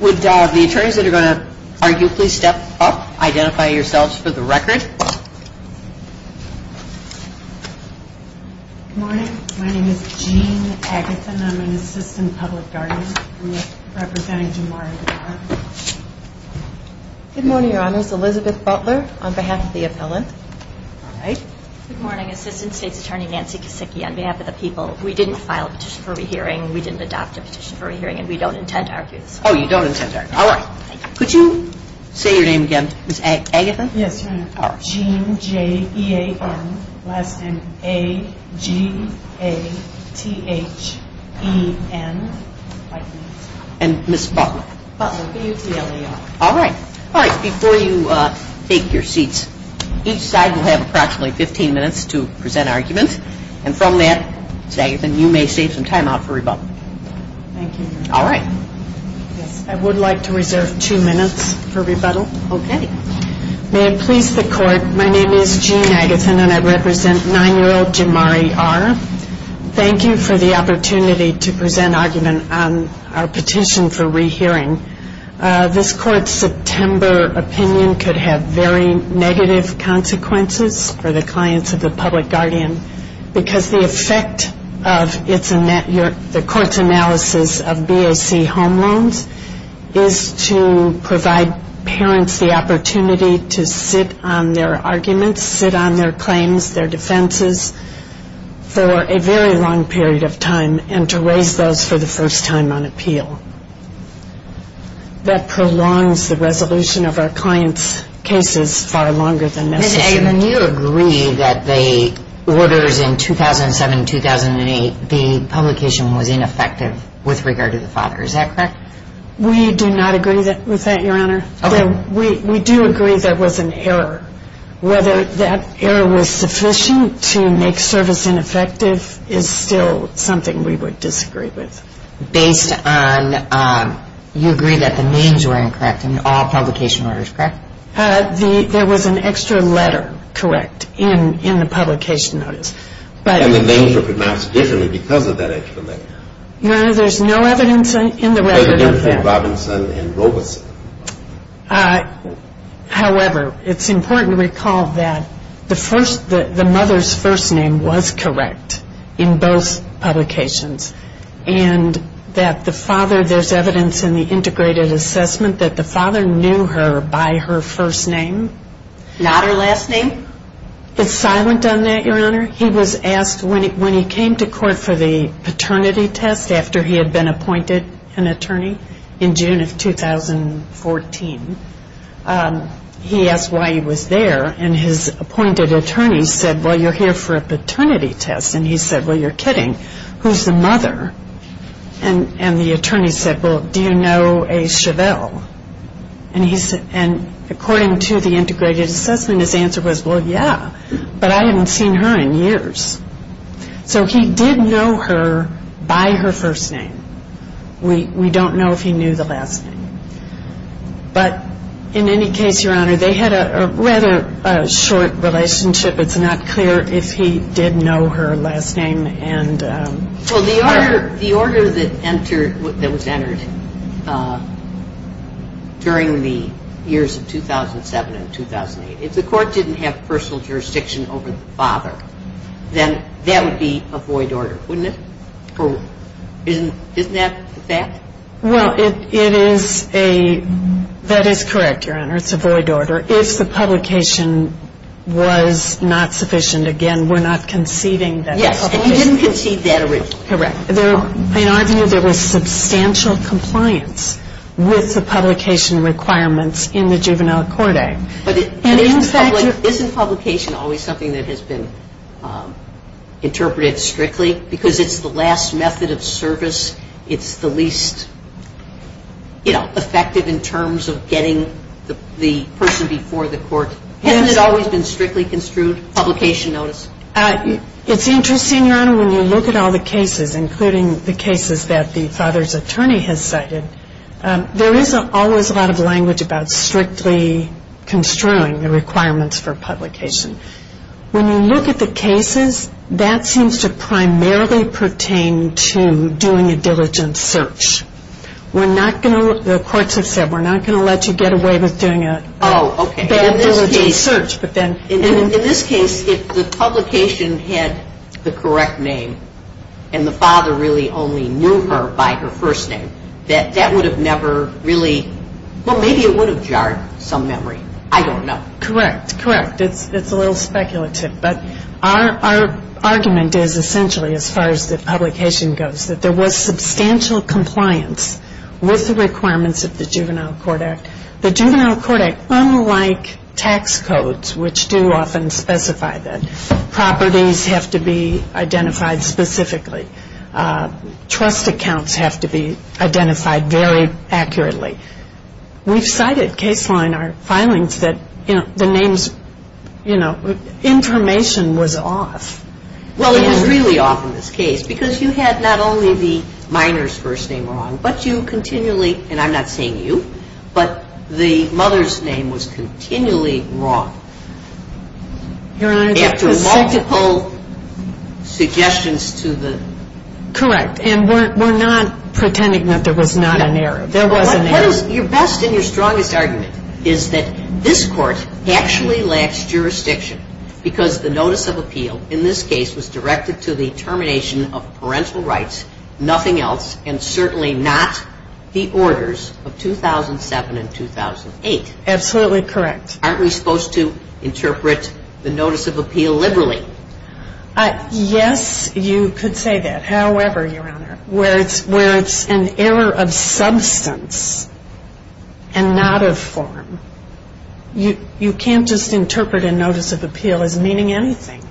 Would the attorneys that are going to argue please step up, identify yourselves for the record. Good morning, my name is Jean Agathon, I'm an assistant public guardian. Good morning your honors, Elizabeth Butler on behalf of the appellant. Good morning, assistant state attorney Nancy Kasicki on behalf of the people. We didn't file a petition for a re-hearing, we didn't adopt a petition for a re-hearing, and we don't intend to argue this. Oh you are. Jean J.E.A.N. last name A-G-A-T-H-E-N. And Ms. Butler. Butler B-U-T-L-E-R. All right. All right, before you take your seats, each side will have approximately 15 minutes to present arguments, and from that, Ms. Agathon, you may save some time out for rebuttal. Thank you. All right. Yes, I would like to reserve two minutes for rebuttal. Okay. May I please introduce the court? My name is Jean Agathon, and I represent 9-year-old Jamari R. Thank you for the opportunity to present argument on our petition for re-hearing. This court's September opinion could have very negative consequences for the clients of the public guardian, because the effect of the court's analysis of BAC home loans is to provide parents the opportunity to sit on their arguments, sit on their claims, their defenses, for a very long period of time, and to raise those for the first time on appeal. That prolongs the resolution of our clients' cases far longer than necessary. Ms. Agathon, you agree that the orders in 2007-2008, the publication was ineffective with regard to the father, is that correct? We do not agree with that, Your Honor. Okay. We do agree there was an error. Whether that error was sufficient to make service ineffective is still something we would disagree with. Based on, you agree that the names were incorrect in all publication orders, correct? There was an extra letter, correct, in the publication notice. And the letter did that. However, it's important to recall that the first, the mother's first name was correct in both publications. And that the father, there's evidence in the integrated assessment that the father knew her by her first name. Not her last name? It's silent on that, Your Honor. He was asked when he came to court for the paternity test after he had been appointed an attorney in June of 2014. He asked why he was there. And his appointed attorney said, well, you're here for a paternity test. And he said, well, you're kidding. Who's the mother? And the attorney said, well, do you know a Chevelle? And according to the integrated assessment, his answer was, well, yeah. But I haven't seen her in years. So he did know her by her first name. We don't know if he knew the last name. But in any case, Your Honor, they had a rather short relationship. It's not clear if he did know her last name. And Well, the order that entered, that was entered during the years of 2007 and 2008, if the publication was not sufficient, again, we're not conceiving that. Yes. And you didn't conceive that originally. Correct. In our view, there was substantial compliance with the publication requirements in the Juvenile Court Act. But isn't publication always something that has been, you know, a requirement strictly? Because it's the last method of service. It's the least, you know, effective in terms of getting the person before the court. Hasn't it always been strictly construed, publication notice? It's interesting, Your Honor, when you look at all the cases, including the cases that the father's attorney has cited, there is always a lot of language about strictly construing the requirements for publication. When you look at the cases, that seems to primarily pertain to doing a diligent search. We're not going to, the courts have said, we're not going to let you get away with doing a diligent search. Oh, okay. In this case, if the publication had the correct name and the father really only knew her by her first name, that that would have never really, well, maybe it would have jarred some memory. I don't know. Correct. Correct. It's a little speculative. But our argument is essentially, as far as the publication goes, that there was substantial compliance with the requirements of the Juvenile Court Act. The Juvenile Court Act, unlike tax codes, which do often specify that, properties have to be identified specifically. Trust accounts have to be identified very accurately. We've cited case line, our filings, that the names, you know, information was off. Well, it was really off in this case, because you had not only the minor's first name wrong, but you continually, and I'm not saying you, but the mother's name was continually wrong. Your Honor, the presumption... After multiple suggestions to the... Correct. And we're not pretending that there was not an error. There was an error. What is your best and your strongest argument is that this court actually lacks jurisdiction, because the notice of appeal in this case was directed to the termination of parental rights, nothing else, and certainly not the orders of 2007 and 2008. Absolutely correct. Aren't we supposed to interpret the notice of appeal liberally? Yes, you could say that. However, Your Honor, where it's an error of substance and not of form, you can't just interpret a notice of appeal as meaning anything.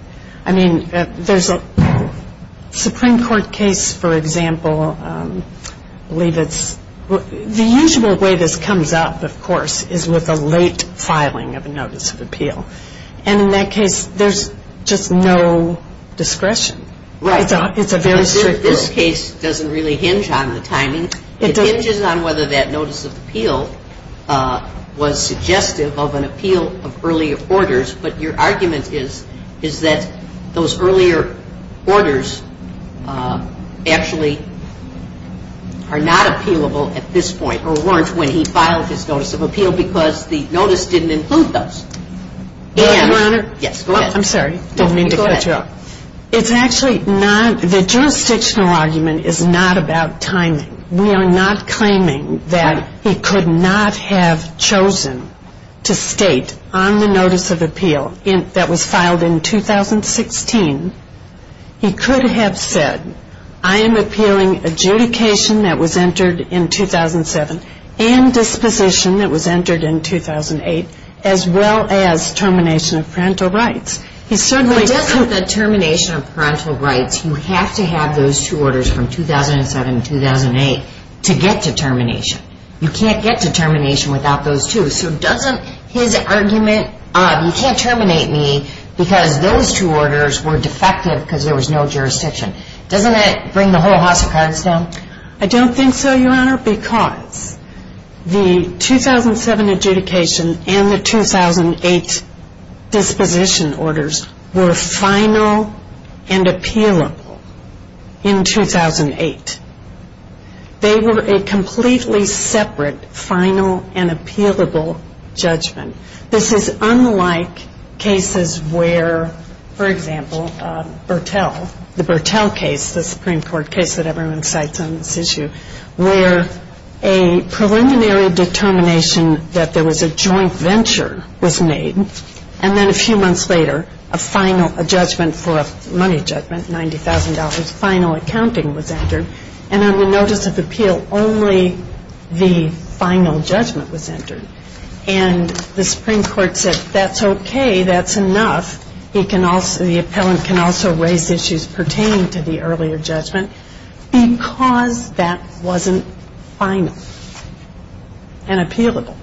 I mean, there's a Supreme Court case, for example, I believe it's The usual way this comes up, of course, is with a late filing of a notice of appeal, and in that case, there's just no discretion. Right. It's a very strict rule. This case doesn't really hinge on the timing. It hinges on whether that notice of appeal was suggestive of an appeal of earlier orders, but your argument is that those earlier orders actually are not appealable at this point, or weren't when he filed his notice of appeal, because the notice didn't include those. Yes, Your Honor. Yes, go ahead. I'm sorry. Go ahead. I don't mean to cut you off. It's actually not, the jurisdictional argument is not about timing. We are not claiming that he could not have chosen to state on the notice of appeal that was entered in 2016, he could have said, I am appealing adjudication that was entered in 2007, and disposition that was entered in 2008, as well as termination of parental rights. But doesn't the termination of parental rights, you have to have those two orders from 2007 and 2008 to get to termination. You can't get to termination without those two. So doesn't his argument, you can't terminate me because those two orders were defective because there was no jurisdiction. Doesn't that bring the whole house of cards down? I don't think so, Your Honor, because the 2007 adjudication and the 2008 disposition orders were final and appealable in 2008. They were a lot like cases where, for example, Bertel, the Bertel case, the Supreme Court case that everyone cites on this issue, where a preliminary determination that there was a joint venture was made, and then a few months later, a final judgment for a money judgment, $90,000, final accounting was entered, and on the notice of appeal, only the final judgment was appealed. That's okay. That's enough. He can also, the appellant can also raise issues pertaining to the earlier judgment because that wasn't final and appealable.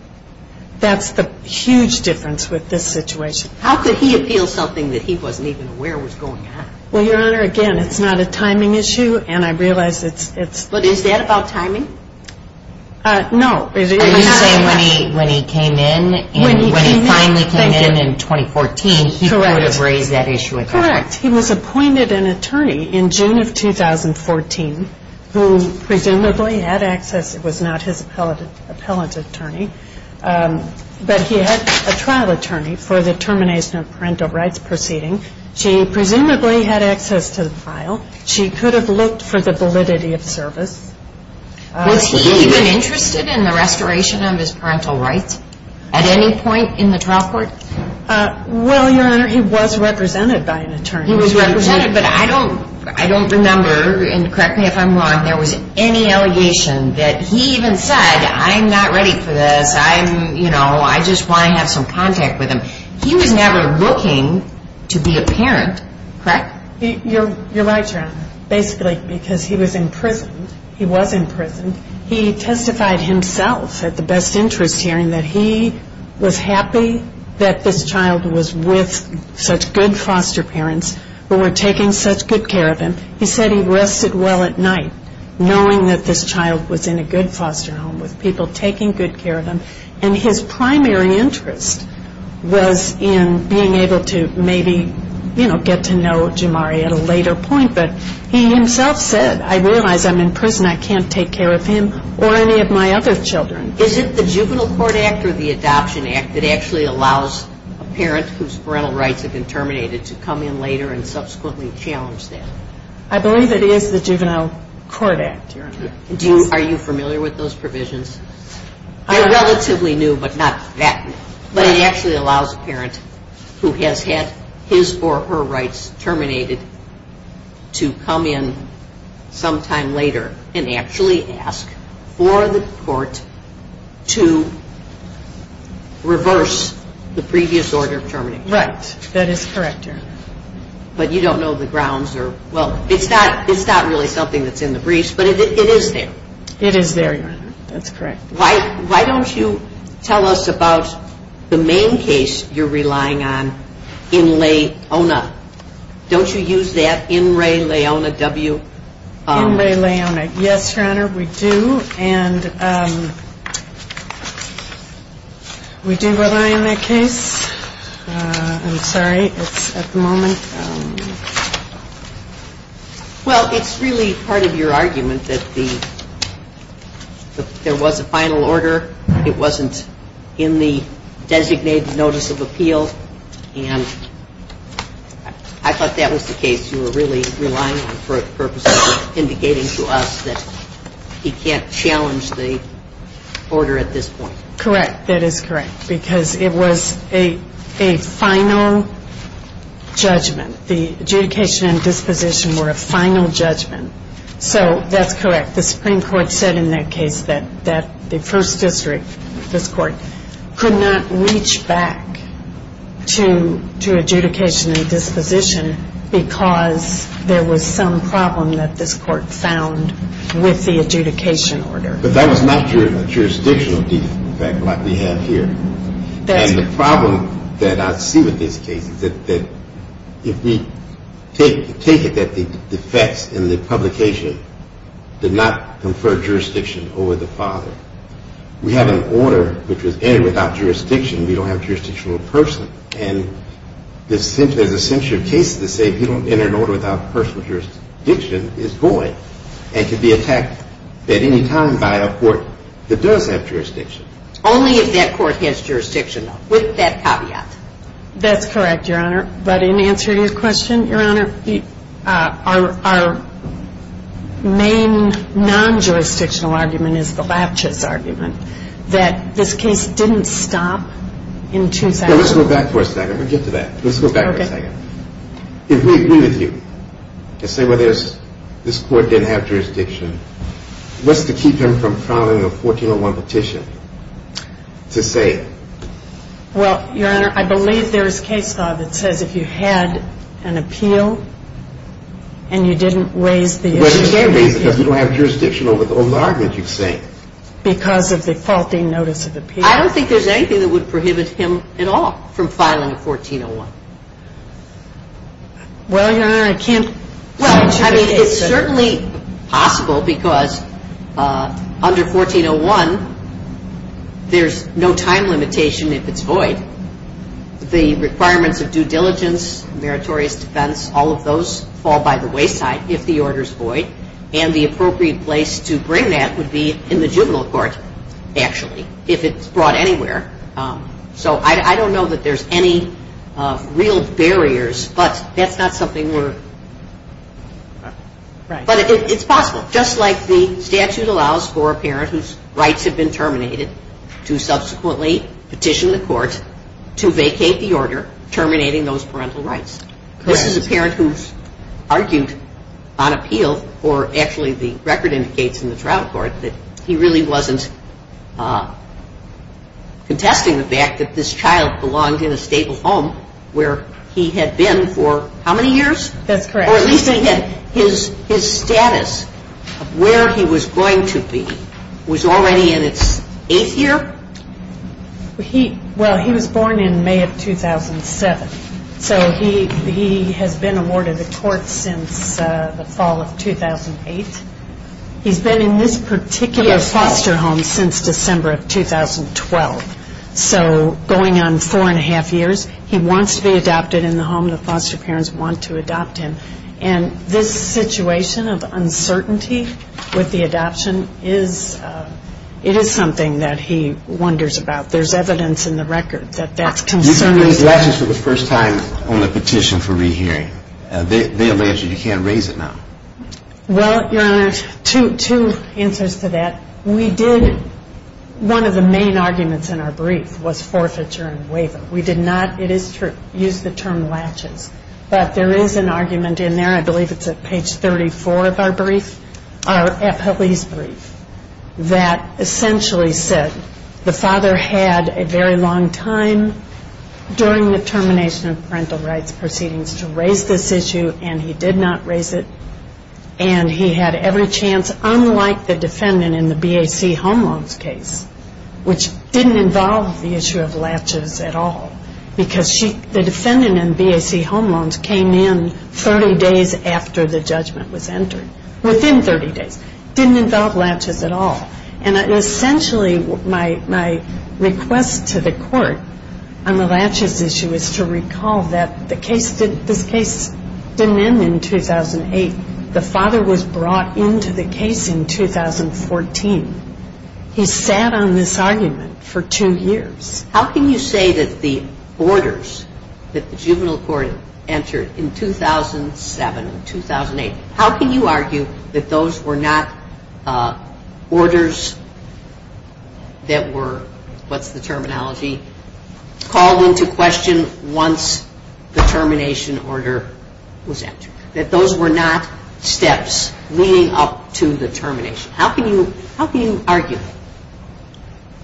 That's the huge difference with this situation. How could he appeal something that he wasn't even aware was going on? Well, Your Honor, again, it's not a timing issue, and I realize it's But is that about timing? No. Are you saying when he came in, when he finally came in in 2014, he could have raised that issue with the court? Correct. He was appointed an attorney in June of 2014 who presumably had access. It was not his appellate attorney, but he had a trial attorney for the termination of parental rights proceeding. She presumably had access to the file. She could have looked for the validity of service. Was he even interested in the restoration of his parental rights at any point in the trial court? Well, Your Honor, he was represented by an attorney. He was represented, but I don't remember, and correct me if I'm wrong, there was any allegation that he even said, I'm not ready for this. I'm, you know, I just want to have some contact with him. He was never looking to be a parent, correct? You're right, Your Honor, basically because he was imprisoned. He testified himself at the best interest hearing that he was happy that this child was with such good foster parents who were taking such good care of him. He said he rested well at night knowing that this child was in a good foster home with people taking good care of him, and his primary interest was in being able to maybe, you know, get to know Jamari at a later point, but he himself said, I realize I'm in prison. I can't take care of him or any of my other children. Is it the Juvenile Court Act or the Adoption Act that actually allows a parent whose parental rights have been terminated to come in later and subsequently challenge that? I believe it is the Juvenile Court Act, Your Honor. Are you familiar with those provisions? I relatively knew, but not that much. But it actually allows a parent who has had his or her rights terminated to come in sometime later and actually ask for the court to reverse the previous order of termination. Right. That is correct, Your Honor. But you don't know the grounds or, well, it's not really something that's in the briefs, but it is there. It is there, Your Honor. That's correct. Why don't you tell us about the main case you're relying on in Ray-Leona. Don't you use that, in Ray-Leona, W? In Ray-Leona. Yes, Your Honor, we do. And we do rely on that case. I'm sorry. It's at the moment. Well, it's really part of your argument that there was a final order. It wasn't in the designated notice of appeal. And it was in the final order. I thought that was the case you were really relying on for a purpose of indicating to us that he can't challenge the order at this point. Correct. That is correct. Because it was a final judgment. The adjudication and disposition were a final judgment. So that's correct. The Supreme Court said in that case that the First District, this Court, could not reach back to adjudicate the order. But that was not a jurisdictional defect like we have here. And the problem that I see with this case is that if we take it that the defects in the publication did not confer jurisdiction over the father. We have an order which was entered without jurisdiction. We don't have a jurisdictional person. It's not a jurisdictional order. I think there's a century of cases that say if you don't enter an order without personal jurisdiction, it's void. And can be attacked at any time by a court that does have jurisdiction. Only if that court has jurisdiction with that caveat. That's correct, Your Honor. But in answering your question, Your Honor, our main non-jurisdictional argument is the Lapchus argument that this case didn't stop in 2000. Let's go back for a second. If we agree with you and say this court didn't have jurisdiction, what's to keep him from filing a 1401 petition to say it? Well, Your Honor, I believe there's case law that says if you had an appeal and you didn't raise the issue Well, you didn't raise it because you don't have jurisdiction over the argument you're saying. Because of the faulty notice of appeal? I don't think there's anything that would prohibit him at all from filing a 1401. Well, Your Honor, I can't Well, I mean, it's certainly possible because under 1401 there's no time limitation if it's void. The requirements of due diligence, meritorious defense, all of those fall by the wayside if the order's void. And the appropriate place to bring that would be in the juvenile court, actually, if it's brought anywhere. So I don't know that there's any real barriers, but that's not something we're... But it's possible, just like the statute allows for a parent whose rights have been terminated to subsequently petition the court to vacate the order terminating those parental rights. This is a parent who's argued on appeal, or actually the record indicates in the trial court, that he really wasn't contesting the fact that this child belonged in a stable home where he had been for how many years? That's correct. His status, where he was going to be, was already in its eighth year? Well, he was born in He has been awarded a tort since the fall of 2008. He's been in this particular foster home since December of 2012. So going on four and a half years, he wants to be adopted in the home the foster parents want to adopt him. And this situation of uncertainty with the adoption is... It is something that he wonders about. There's evidence in the record that that's concerning. You didn't raise latches for the first time on the petition for rehearing. They allege that you can't raise it now. Well, Your Honor, two answers to that. One of the main arguments in our brief was forfeiture and waiver. We did not, it is true, use the term latches. But there is an argument in there, I believe it's at page 34 of our brief, our appellee's brief that essentially said the father had a very long time during the termination of parental rights proceedings to raise this issue and he did not raise it and he had every chance, unlike the defendant in the BAC home loans case which didn't involve the issue of latches at all because the defendant in BAC home loans came in 30 days after the judgment was entered within 30 days, didn't involve latches at all and essentially my request to the court on the latches issue is to recall that this case didn't end in 2008. The father was brought into the case in 2014. He sat on this argument for two years. How can you say that the orders that the juvenile court entered in 2007, 2008, how can you argue that those were not orders that were, what's the terminology called into question once the termination order was entered? That those were not steps leading up to the termination? How can you argue?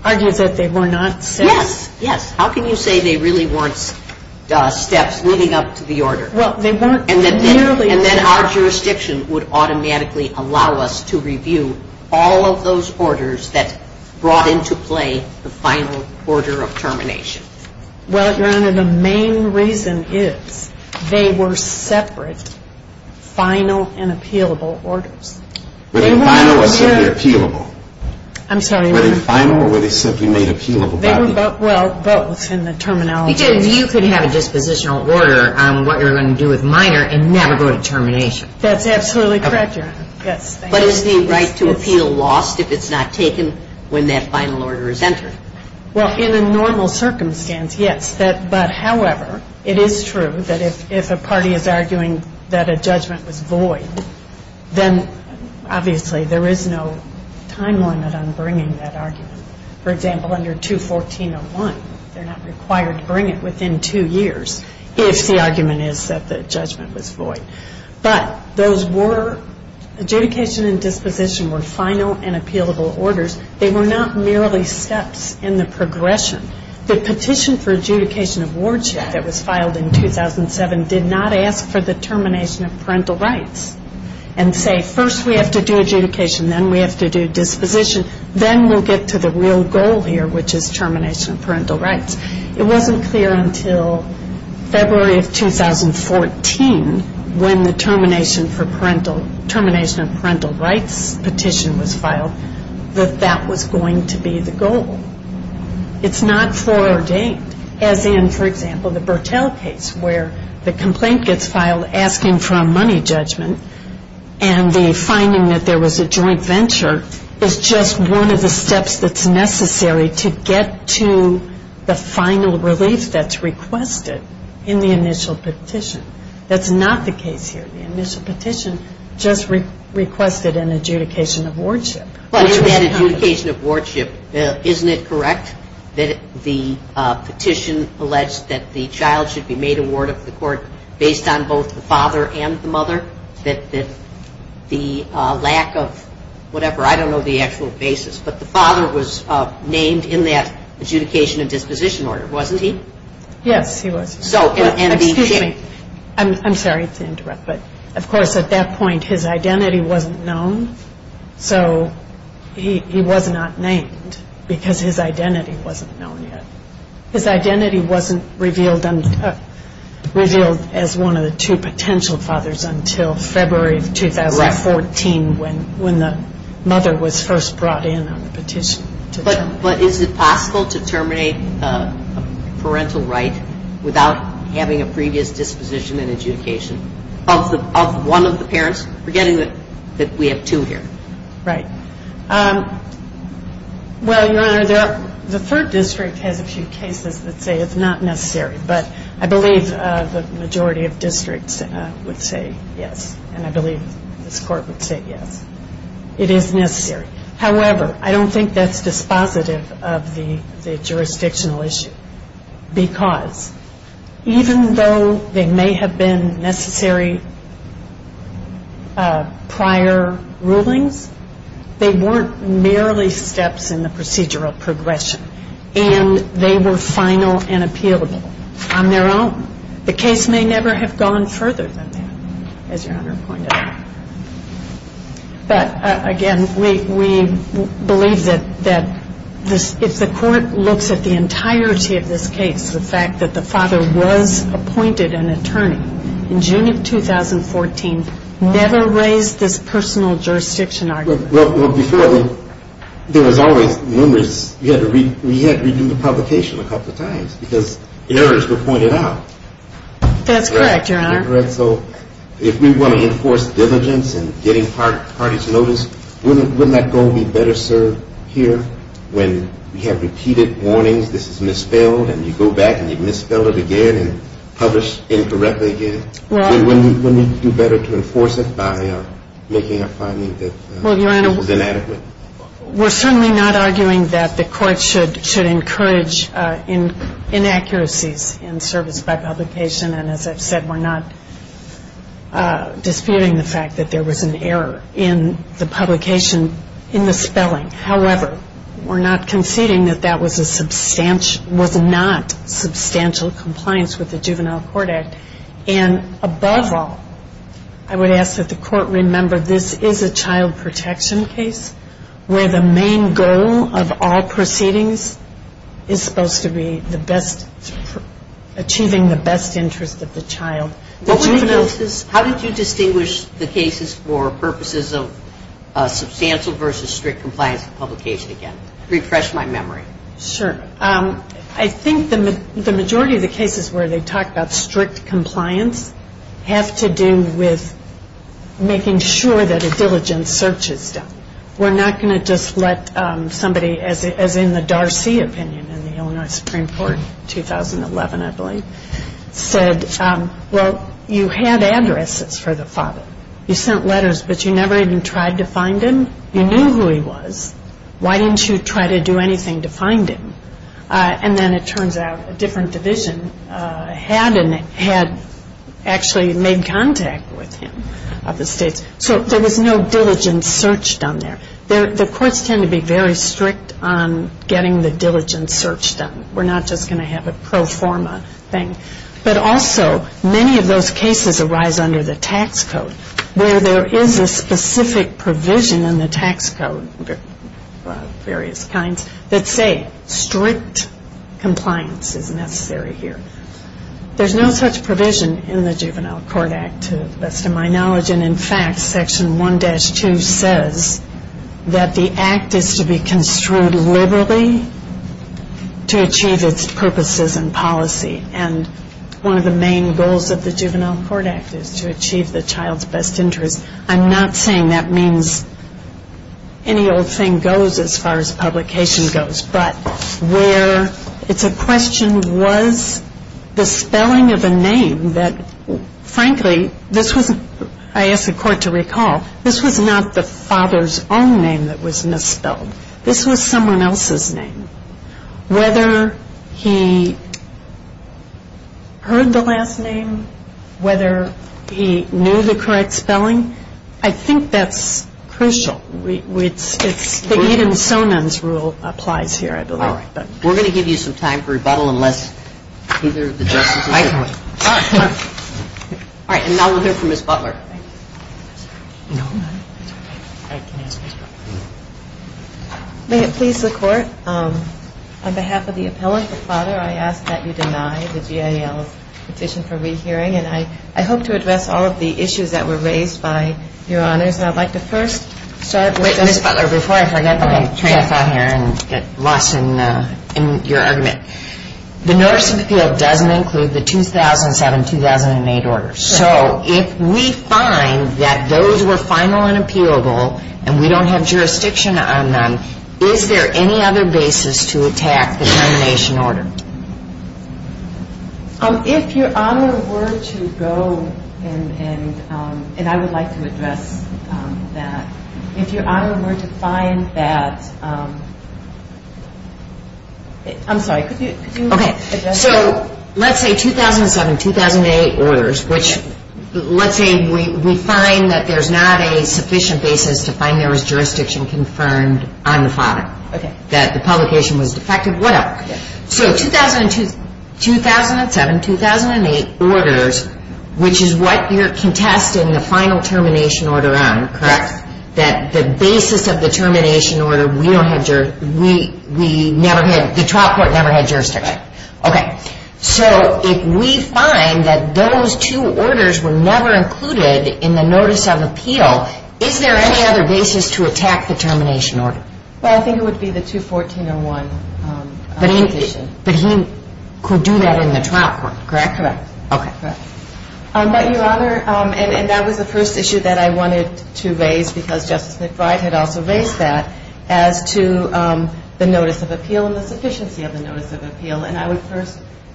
Argue that they were not steps? Yes, yes. How can you say they really weren't steps leading up to the order? And then our jurisdiction would automatically allow us to review all of those orders that brought into play the final order of termination? The main reason is they were separate final and appealable orders. Were they final or were they appealable? I'm sorry? Well, both in the terminology. Because you could have a dispositional order on what you're going to do with minor and never go to termination. That's absolutely correct, Your Honor. But is the right to appeal lost if it's not taken when that final order is entered? Well, in a normal circumstance, yes. But, however, it is true that if a party is arguing that a judgment was void, then obviously there is no time limit on bringing that argument. For example, under 214.01, they're not required to bring it within two years if the argument is that the judgment was void. But those were, adjudication and disposition were final and appealable orders. They were not merely steps in the progression. The petition for adjudication of wardship that was filed in 2007 did not ask for the termination of parental rights and say, first we have to do adjudication, then we have to do disposition, then we'll get to the real goal here, which is termination of parental rights. It wasn't clear until February of 2014 when the termination of parental rights petition was filed that that was going to be the goal. It's not foreordained. As in, for example, the Bertell case where the complaint gets filed asking for a money judgment and the finding that there was a joint venture is just one of the steps that's necessary to get to the final relief that's requested in the initial petition. That's not the case here. The initial petition just requested an adjudication of wardship. But in that adjudication of wardship, isn't it correct that the petition alleged that the child should be made a ward of the court based on both the father and the mother? That the lack of whatever, I don't know the actual basis, but the father was named in that adjudication and disposition order, wasn't he? Yes, he was. I'm sorry to interrupt, but of course at that point his identity wasn't known so he was not named because his identity wasn't known yet. His identity wasn't revealed as one of the two potential fathers until February of 2014 when the mother was first brought in on the petition. But is it possible to terminate a parental right without having a previous disposition and adjudication of one of the parents forgetting that we have two here? Right. Well, Your Honor, the third district has a few cases that say it's not necessary, but I believe the majority of districts would say yes and I believe this court would say yes. It is necessary. However, I don't think that's dispositive of the jurisdictional issue because even though they may have been necessary prior rulings, they weren't merely steps in the procedural progression and they were final and appealable on their own. The case may never have gone further than that as Your Honor pointed out. But again, we believe that if the court looks at the entirety of this case the fact that the father was appointed an attorney in June of 2014 never raised this personal jurisdiction argument. Well, before there was always numerous, we had to redo the publication a couple of times because errors were pointed out. That's correct, Your Honor. So if we want to enforce diligence and getting parties' notice wouldn't that goal be better served here when we have repeated warnings this is misspelled and you go back and you misspell it again and publish incorrectly again? Wouldn't it be better to enforce it by making a finding that was inadequate? We're certainly not arguing that the court should encourage inaccuracies in service by publication and as I've said, we're not disputing the fact that there was an error in the publication, in the spelling. However, we're not conceding that that was not substantial compliance with the Juvenile Court Act and above all, I would ask that the court remember this is a child protection case where the main goal of all proceedings is supposed to be achieving the best interest of the child. How did you distinguish the cases for purposes of substantial versus strict compliance with publication again? I think the majority of the cases where they talk about strict compliance have to do with making sure that a diligent search is done. We're not going to just let somebody as in the Darcy opinion in the Illinois Supreme Court 2011 I believe said well you had addresses for the father you sent letters but you never even tried to find him you knew who he was why didn't you try to do anything to find him and then it turns out a different division had actually made contact with him so there was no diligent search done there the courts tend to be very strict on getting the diligent search done we're not just going to have a pro forma thing but also many of those cases arise under the tax code where there is a specific provision in the tax code various kinds that say strict compliance is necessary here there's no such provision in the juvenile court act to the best of my knowledge and in fact section 1-2 says that the act is to be construed liberally to achieve its purposes and policy and one of the main goals of the juvenile court act is to achieve the child's best interest I'm not saying that means any old thing goes as far as publication goes but where it's a question was the spelling of a name that frankly this was I ask the court to recall this was not the father's own name that was misspelled this was someone else's name whether he heard the last name whether he knew the correct spelling I think that's crucial even Sonin's rule applies here we're going to give you some time for rebuttal unless either of the justices and now we'll hear from Ms. Butler may it please the court on behalf of the appellant, the father I ask that you deny the GAL's petition for rehearing and I hope to address all of the issues that were raised by your honors Ms. Butler, before I forget and get lost in your argument the notice of appeal doesn't include the 2007-2008 order so if we find that those were final and appealable and we don't have jurisdiction on them is there any other basis to attack the termination order if your honor were to go and I would like to address that if your honor were to find that I'm sorry, could you so let's say 2007-2008 orders which let's say we find that there's not a sufficient basis to find there was jurisdiction confirmed on the father that the publication was defective so 2007-2008 orders which is what you're contesting the final termination order on that the basis of the termination order the trial court never had jurisdiction so if we find that those two orders were never included in the notice of appeal is there any other basis to attack the termination order I think it would be the 214-01 but he could do that in the trial court correct your honor and that was the first issue that I wanted to raise as to the notice of appeal and the sufficiency of the notice of appeal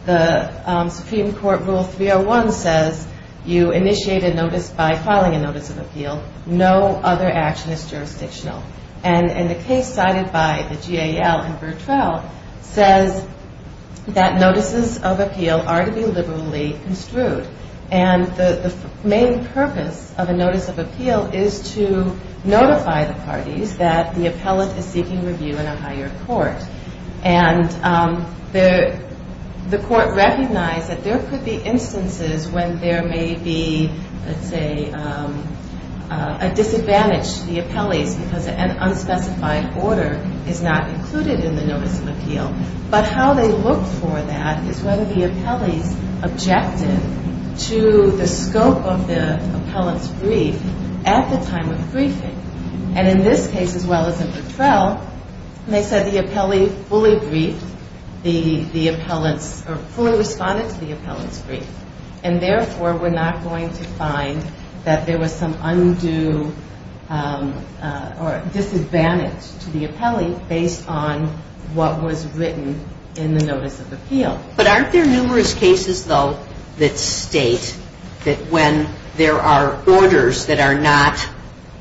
the supreme court rule 301 says you initiate a notice by filing a notice of appeal no other action is jurisdictional and the case cited by the GAL says that notices of appeal are to be liberally construed and the main purpose of a notice of appeal is to notify the parties that the appellate is seeking review in a higher court and the court recognized that there could be instances when there may be a disadvantage to the appellate because an unspecified order is not included in the notice of appeal but how they look for that is whether the appellate is objective to the scope of the appellate's brief at the time of briefing and in this case as well as in the trial they said the appellate fully briefed or fully responded to the appellate's brief and therefore we're not going to find that there was some undue or disadvantage to the appellate based on what was written in the notice of appeal but aren't there numerous cases though that state that when there are orders that are not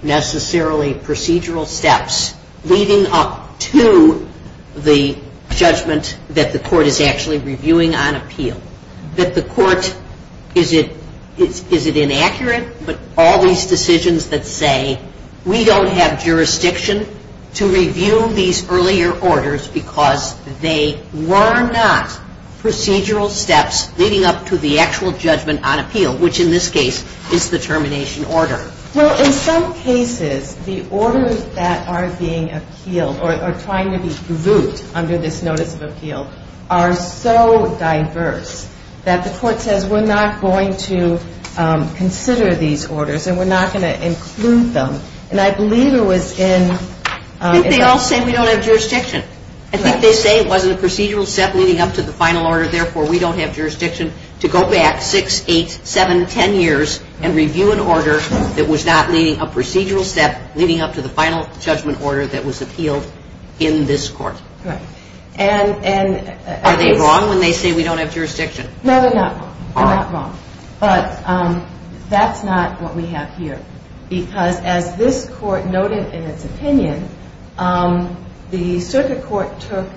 necessarily procedural steps leading up to the judgment that the court is actually reviewing on appeal that the court is it inaccurate but all these decisions that say we don't have jurisdiction to review these earlier orders because they were not procedural steps leading up to the actual judgment on appeal which in this case is the termination order well in some cases the orders that are being appealed or trying to be reviewed under this notice of appeal are so diverse that the court says we're not going to consider these orders and we're not going to include them and I believe it was in I think they all say we don't have jurisdiction I think they say it wasn't a procedural step leading up to the final order therefore we don't have jurisdiction to go back 6, 8, 7, 10 years and review an order that was not leading a procedural step leading up to the final judgment order that was appealed in this court are they wrong when they say we don't have jurisdiction no they're not wrong but that's not what we have here because as this court noted in its opinion the circuit court took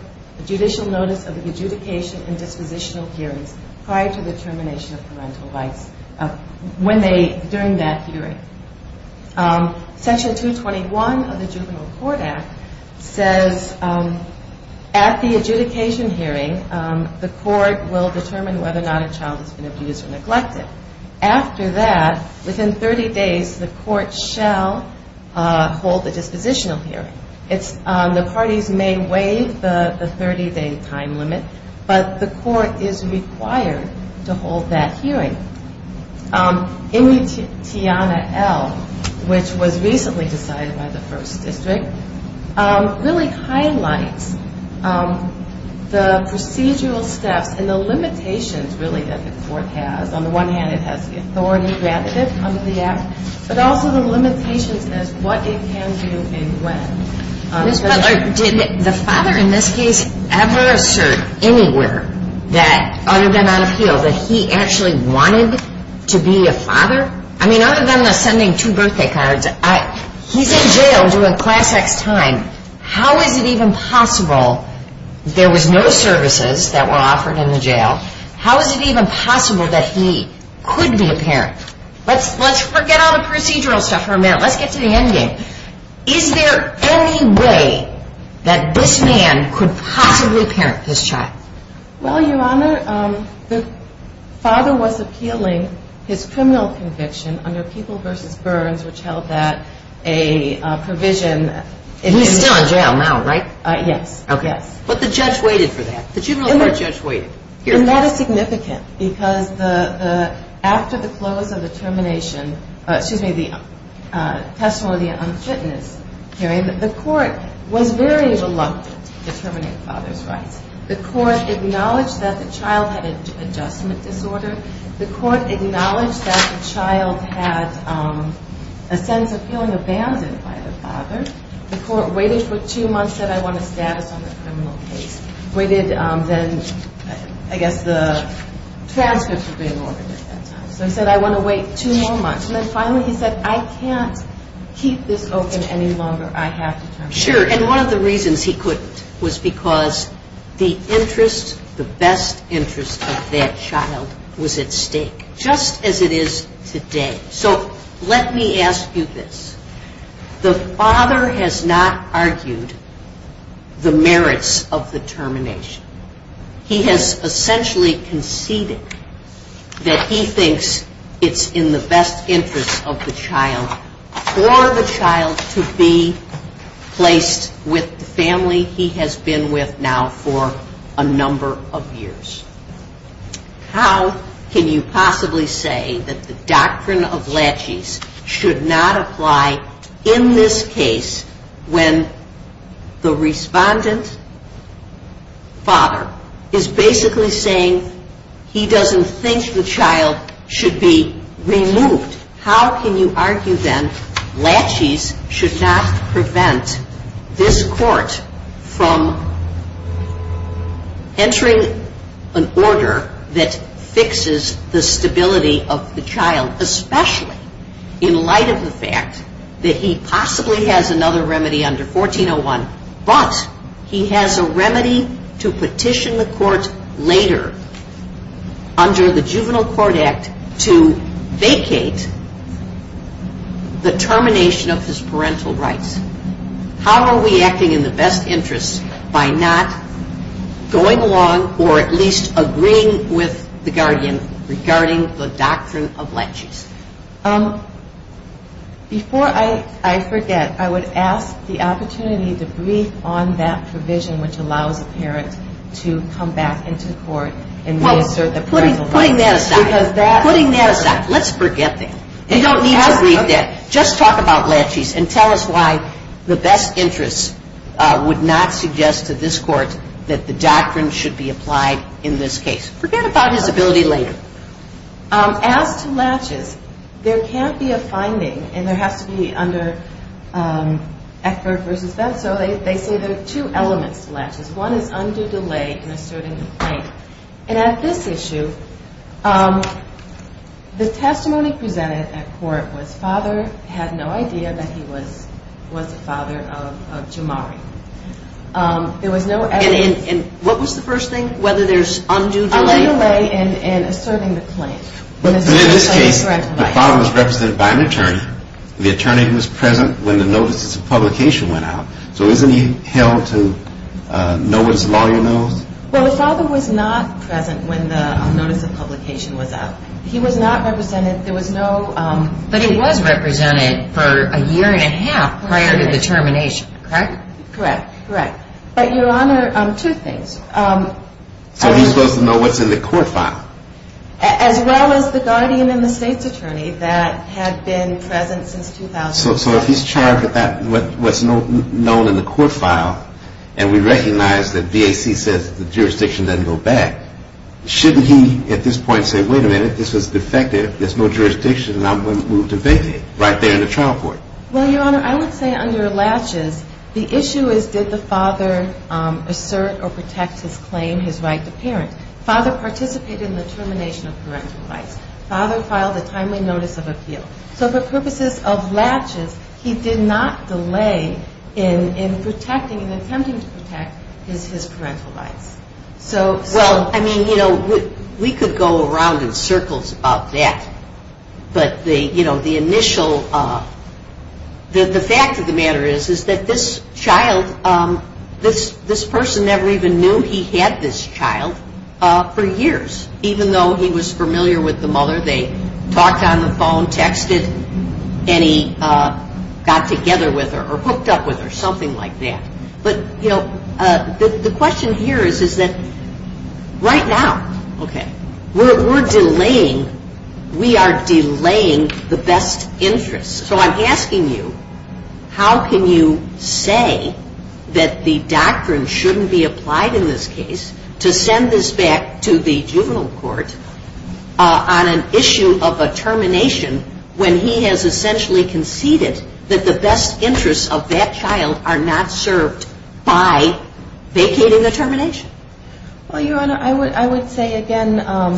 judicial notice of adjudication and dispositional hearings prior to the termination of parental rights during that hearing section 221 of the juvenile court act says at the adjudication hearing the court will determine whether or not a child has been abused or neglected after that within 30 days the court shall hold the dispositional hearing the parties may waive the 30 day time limit but the court is required to hold that hearing in the Tiana L which was recently decided by the first district really highlights the procedural steps and the limitations really that the court has on the one hand it has the authority granted but also the limitations as to what it can do and when Ms. Butler did the father in this case ever assert anywhere that other than on appeal that he actually wanted to be a father I mean other than sending two birthday cards he's in jail during class X time how is it even possible there was no services that were offered in the jail how is it even possible that he could be a parent let's forget all the procedural stuff for a minute let's get to the end game is there any way that this man could possibly parent this child well your honor the father was appealing his criminal conviction under people versus burns he's still in jail now right yes but the judge waited for that and that is significant because after the close of the termination excuse me the testimony the unfitness hearing the court was very reluctant to terminate father's rights the court acknowledged that the child had an adjustment disorder the court acknowledged that the child had a sense of feeling abandoned by the father the court waited for two months he said I want a status on the criminal case I guess the transcripts would be in order so he said I want to wait two more months and finally he said I can't keep this open any longer I have to terminate sure and one of the reasons he couldn't was because the best interest of that child was at stake just as it is today so let me ask you this the father has not argued the merits of the termination he has essentially conceded that he thinks it's in the best interest of the child for the child to be placed with the family he has been with now for a number of years how can you possibly say that the doctrine of laches should not apply in this case when the respondent father is basically saying he doesn't think the child should be removed how can you argue then laches should not prevent this court from entering an order that fixes the stability of the child especially in light of the fact that he possibly has another remedy under 1401 but he has a remedy to petition the court later under the juvenile court act to vacate the termination of his parental rights how are we acting in the best interest by not going along or at least agreeing with the guardian regarding the doctrine of laches before I forget I would ask the opportunity to brief on that provision which allows a parent to come back into the court putting that aside let's forget that just talk about laches and tell us why the best interest would not suggest to this court that the doctrine should be applied forget about his ability later as to laches there can't be a finding and there has to be they say there are two elements one is undue delay and asserting the claim the testimony presented was that the father had no idea that he was the father of Jamari what was the first thing whether there is undue delay and asserting the claim the father was represented by an attorney the attorney was present when the notice of publication was out but he was represented for a year and a half prior to the termination correct so he is supposed to know what is in the court file so if he is charged with what is known in the court file and we recognize that the jurisdiction does not go back shouldn't he at this point say wait a minute there is no jurisdiction I would say under laches the issue is did the father assert or protect his claim the father participated in the termination of parental rights he did not delay in attempting to protect his parental rights we could go around in circles about that the fact of the matter is that this child this person never even knew he had this child for years even though he was familiar they talked on the phone texted or hooked up the question here right now we are delaying the best interest how can you say that the doctrine shouldn't be applied to send this back to the juvenile court on an issue of a termination when he has conceded that the best interest of that child are not served by vacating the termination I would say refer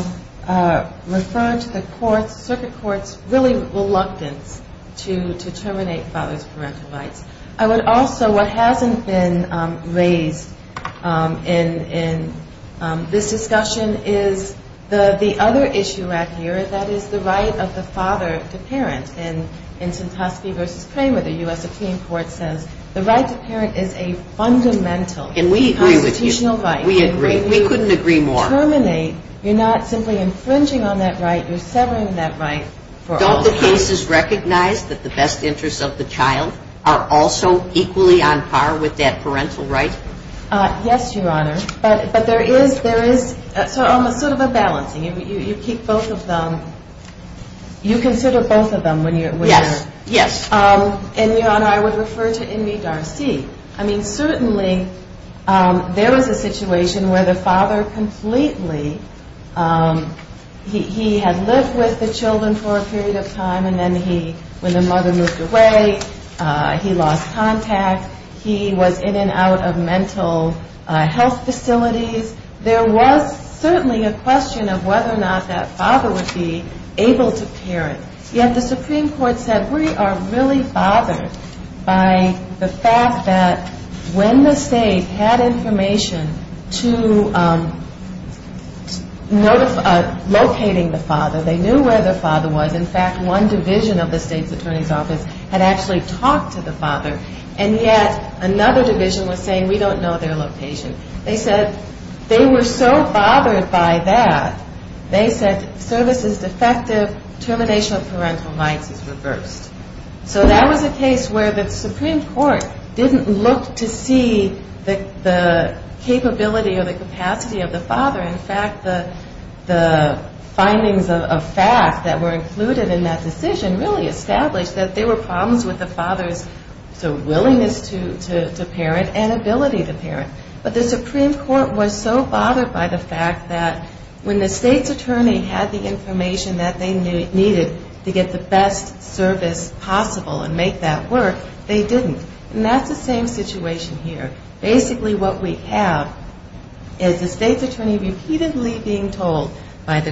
to the circuit court reluctance to terminate father's parental rights what hasn't been raised in this discussion is the other issue the right of the father to parent the right to parent is a fundamental constitutional right you are not simply infringing you are severing that right don't the cases recognize that the best interest of the child are also equally on par with that parental right yes there is a balancing you keep both of them you consider both of them I would refer to in me Darcy certainly there was a situation where the father lived with the children for a period of time when the mother moved away he lost contact he was in and out of mental health facilities there was a question of whether or not the father would be able to parent yet the Supreme Court said we are really bothered by the fact that when the state had information to locate the father they knew where the father was in fact one division had talked to the father yet another division we don't know their location they were so bothered by that services defective termination of parental rights that was a case where the Supreme Court didn't look to see the capacity of the father the findings of fact really established that there were problems with the father's willingness and ability to parent but the Supreme Court was so bothered by the fact that when the state's attorney had the information they needed to get the best service possible they didn't basically what we have is the state's attorney repeatedly being told this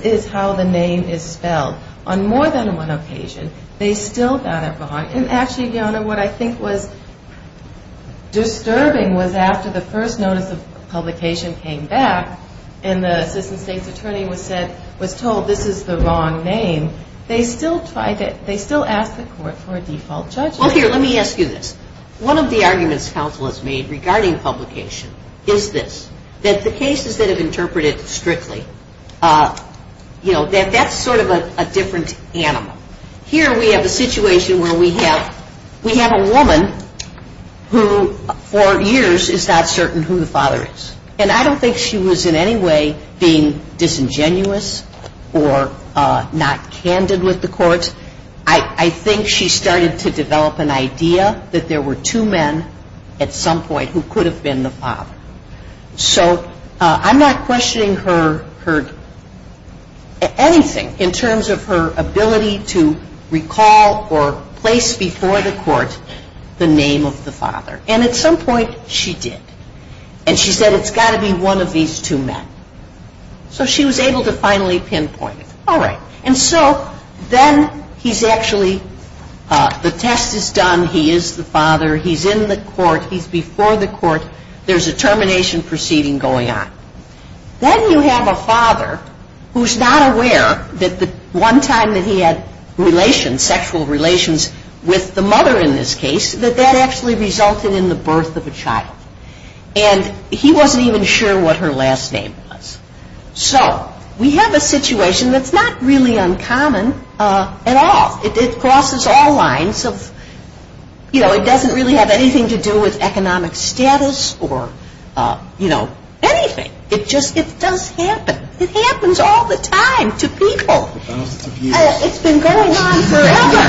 is how the name is spelled on more than one occasion they still got it wrong disturbing was after the first notice of publication came back and the attorney was told this is the wrong name they still asked the court for a default judgment one of the arguments council has made regarding publication is this the cases interpreted strictly that's sort of a different animal here we have a situation where we have a woman who for years is not certain who the father is I don't think she was being disingenuous or not candid I think she started to develop an idea that there were two men who could have been the father I'm not questioning her in terms of her ability to recall or place before the court the name of the father and at some point she did and she said it's got to be one of these two men so she was able to finally pinpoint it and so then he's actually the test is done he is the father he's in the court there's a termination proceeding going on then you have a father who's not aware that the one time he had sexual relations with the mother that actually resulted in the birth of a child and he wasn't even sure what her last name was so we have a situation that's not really uncommon at all it crosses all lines it doesn't really have anything to do with economic status or anything it does happen it happens all the time to people it's been going on forever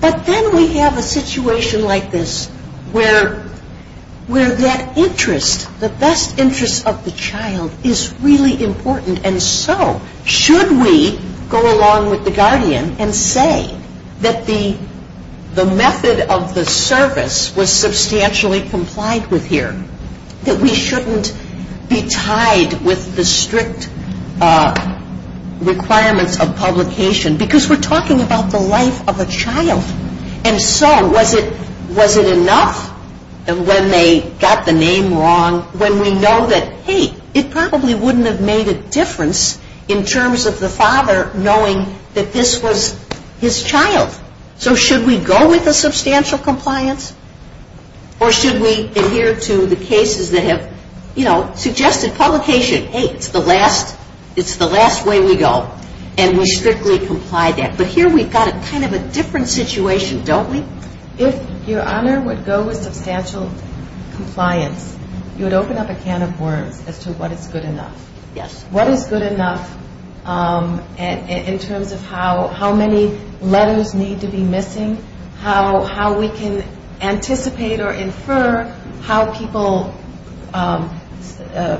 but then we have a situation like this where that interest the best interest of the child is really important and so should we go along with the guardian and say that the method of the service was substantially complied with here that we shouldn't be tied with the strict requirements of publication because we're talking about the life of a child and so was it enough when they got the name wrong when we know that hey it probably wouldn't have made a difference in terms of the father knowing that this was his child so should we go with the substantial compliance or should we adhere to the cases that have suggested publication hey it's the last way we go and we strictly complied that but here we've got a different situation if your honor would go with substantial compliance you would open up a can of worms as to what is good enough what is good enough in terms of how many letters need to be missing how we can anticipate or infer how people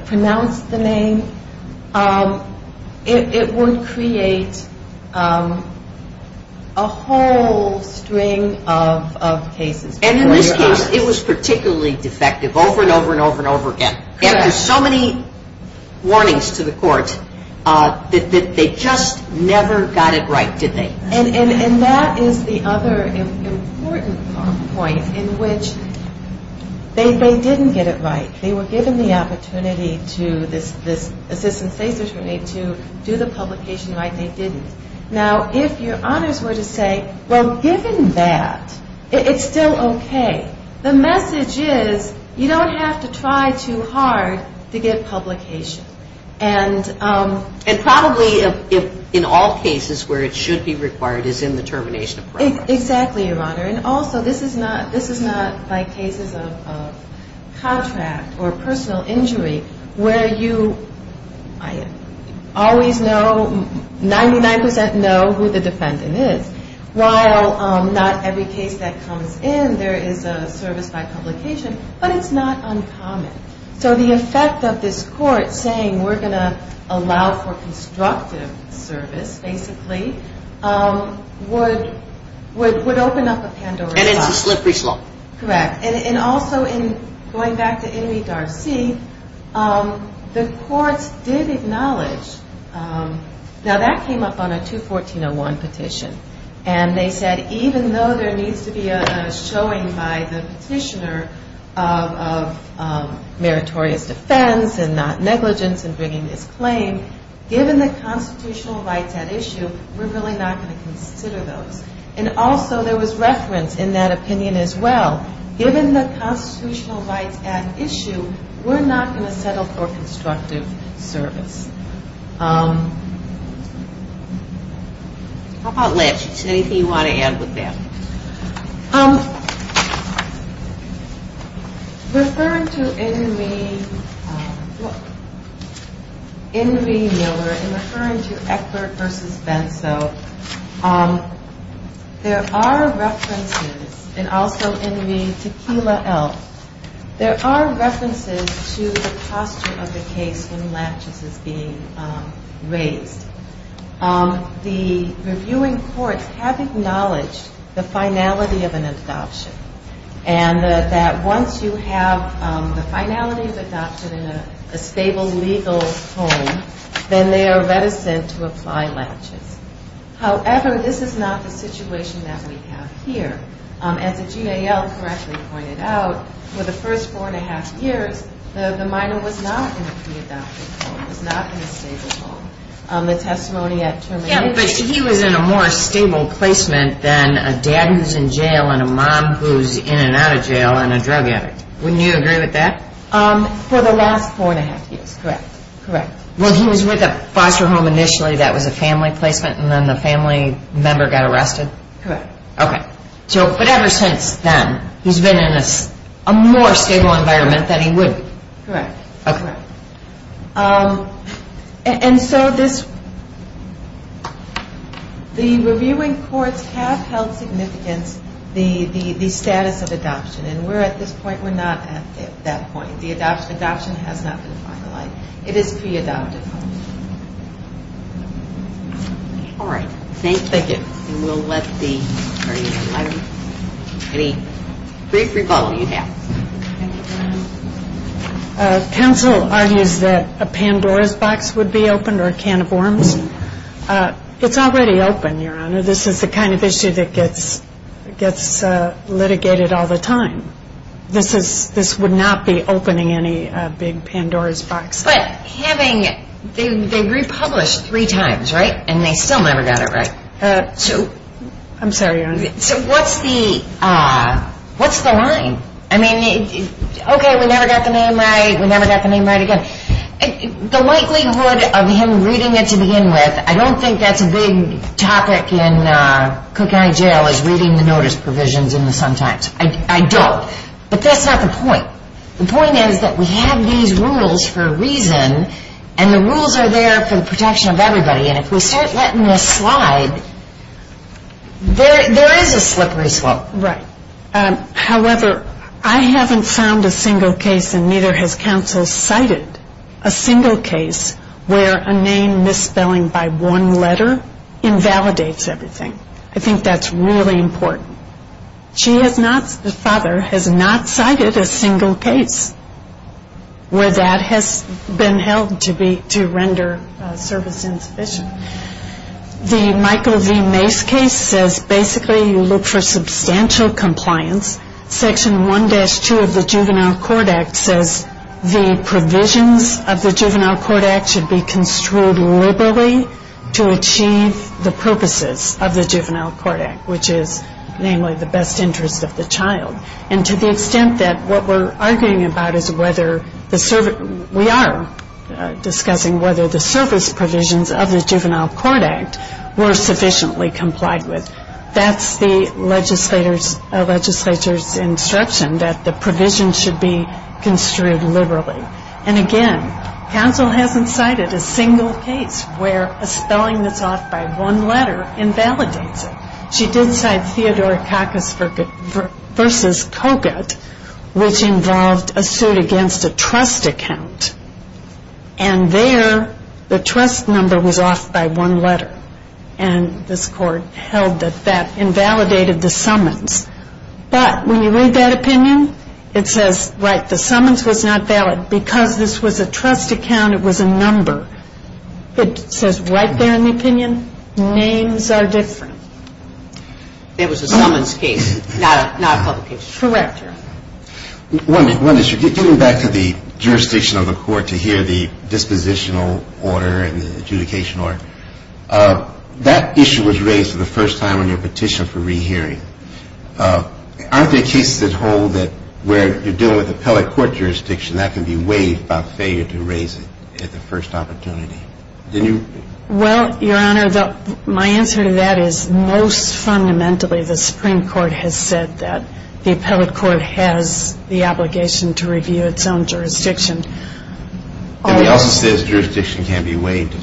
pronounce the name it would create a whole string of cases and in this case it was particularly defective over and over and over again after so many warnings to the courts they just never got it right did they and that is the other important point in which they didn't get it right they were given the opportunity to do the publication right they didn't now if your honors were to say well given that it's still ok the message is you don't have to try too hard to get publication and probably in all cases where it should be required is in the termination of program exactly your honor and also this is not by cases of contract or personal injury where you always know 99% know who the defendant is while not every case that comes in there is a service by publication but it's not uncommon so the effect of this court saying we're going to allow for constructive service basically would open up a Pandora's box and it's a slippery slope correct and also going back to Ennemy Darcy the courts did acknowledge now that came up on a 214.01 petition and they said even though there needs to be a showing by the petitioner of meritorious defense and not negligence given the constitutional rights at issue we're really not going to consider those and also there was reference in that opinion as well given the constitutional rights at issue we're not going to settle for constructive service anything you want to add referring to Ennemy Ennemy Miller and referring to Eckford versus Benso there are references and also Ennemy Tequila Elf there are references to the posture of the case when Latches is being raised the reviewing courts have acknowledged the finality of an adoption and that once you have the finality of adoption in a stable legal home then they are reticent to apply Latches however this is not the situation that we have here as the GAL correctly pointed out for the first four and a half years the minor was not in a pre-adopted home he was in a more stable placement than a dad who's in jail and a mom who's in and out of jail and a drug addict for the last four and a half years he was with a foster home initially that was a family placement and then the family member got arrested but ever since then he's been in a more stable environment than he would be and so this the reviewing courts have held significance the status of adoption and we're at this point we're not at that point the adoption has not been finalized it is pre-adopted alright thank you brief recall council argues that a Pandora's box would be open or a can of worms it's already open this is the kind of issue that gets litigated all the time this would not be opening any big Pandora's box they republished three times and they still never got it right so what's the line ok we never got the name right we never got the name right again the likelihood of him reading it I don't think that's a big topic in Cook County Jail I don't but that's not the point the point is that we have these rules for a reason and the rules are there for the protection of everybody and if we start letting this slide there is a slippery slope however I haven't found a single case where a name misspelling by one letter invalidates everything I think that's really important the father has not cited a single case where that has been held to render service insufficient the Michael V. Mace case says basically you look for substantial compliance section 1-2 of the Juvenile Court Act says the provisions of the Juvenile Court Act should be construed liberally to achieve the purposes of the Juvenile Court Act which is namely the best interest of the child and to the extent that what we are arguing about we are discussing whether the service provisions of the Juvenile Court Act were sufficiently complied with that's the legislature's instruction that the provisions should be construed liberally and again counsel hasn't cited a single case where a spelling that's off by one letter invalidates it she did cite Theodore Kakos versus Kogut which involved a suit against a trust account and there the trust number was off by one letter and this court held that that invalidated the summons but when you read that opinion it says right the summons was not valid because this was a trust account it was a number it says right there in the opinion names are different it was a summons case correct getting back to the jurisdiction of the court to hear the dispositional order and the adjudication order that issue was raised for the first time on your petition for re-hearing aren't there cases that hold where you're dealing with appellate court jurisdiction that can be waived by failure to raise it at the first opportunity my answer to that is most fundamentally the supreme court has said that the appellate court has the obligation to review its own jurisdiction jurisdiction can be waived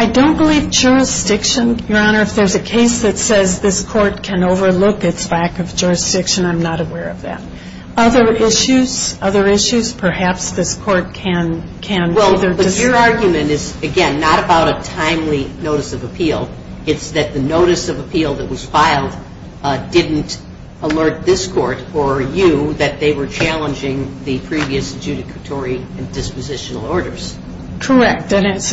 I don't believe jurisdiction if there's a case that says this court can overlook its lack of jurisdiction I'm not aware of that other issues perhaps this court can your argument is not about a timely notice of appeal it's that the notice of appeal that was filed didn't alert this court or you that they were challenging the previous judicatory and dispositional orders correct it's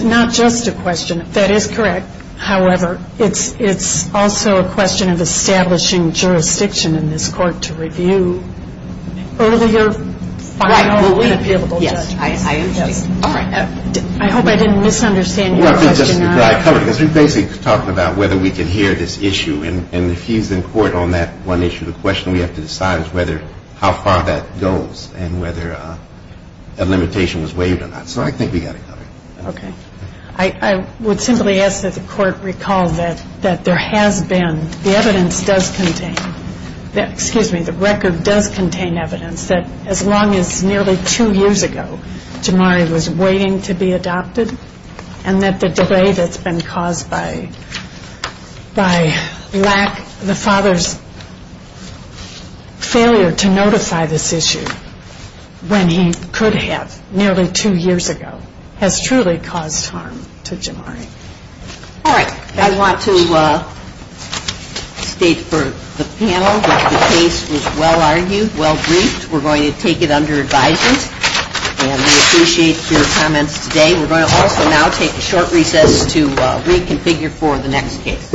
also a question of establishing jurisdiction in this court to review earlier I hope I didn't misunderstand whether we can hear this issue if he's in court on that one issue we have to decide how far that goes whether a limitation was waived I think we got it covered I would simply ask that the court recall that there has been the record does contain evidence that as long as nearly two years ago Jamari was waiting to be adopted and that the delay that's been caused by the father's failure to notify this issue when he could have nearly two years ago has truly caused harm to Jamari I want to state for the panel that the case was well argued well briefed we're going to take it under advisement we appreciate your comments today we're going to take a short recess to reconfigure for the next case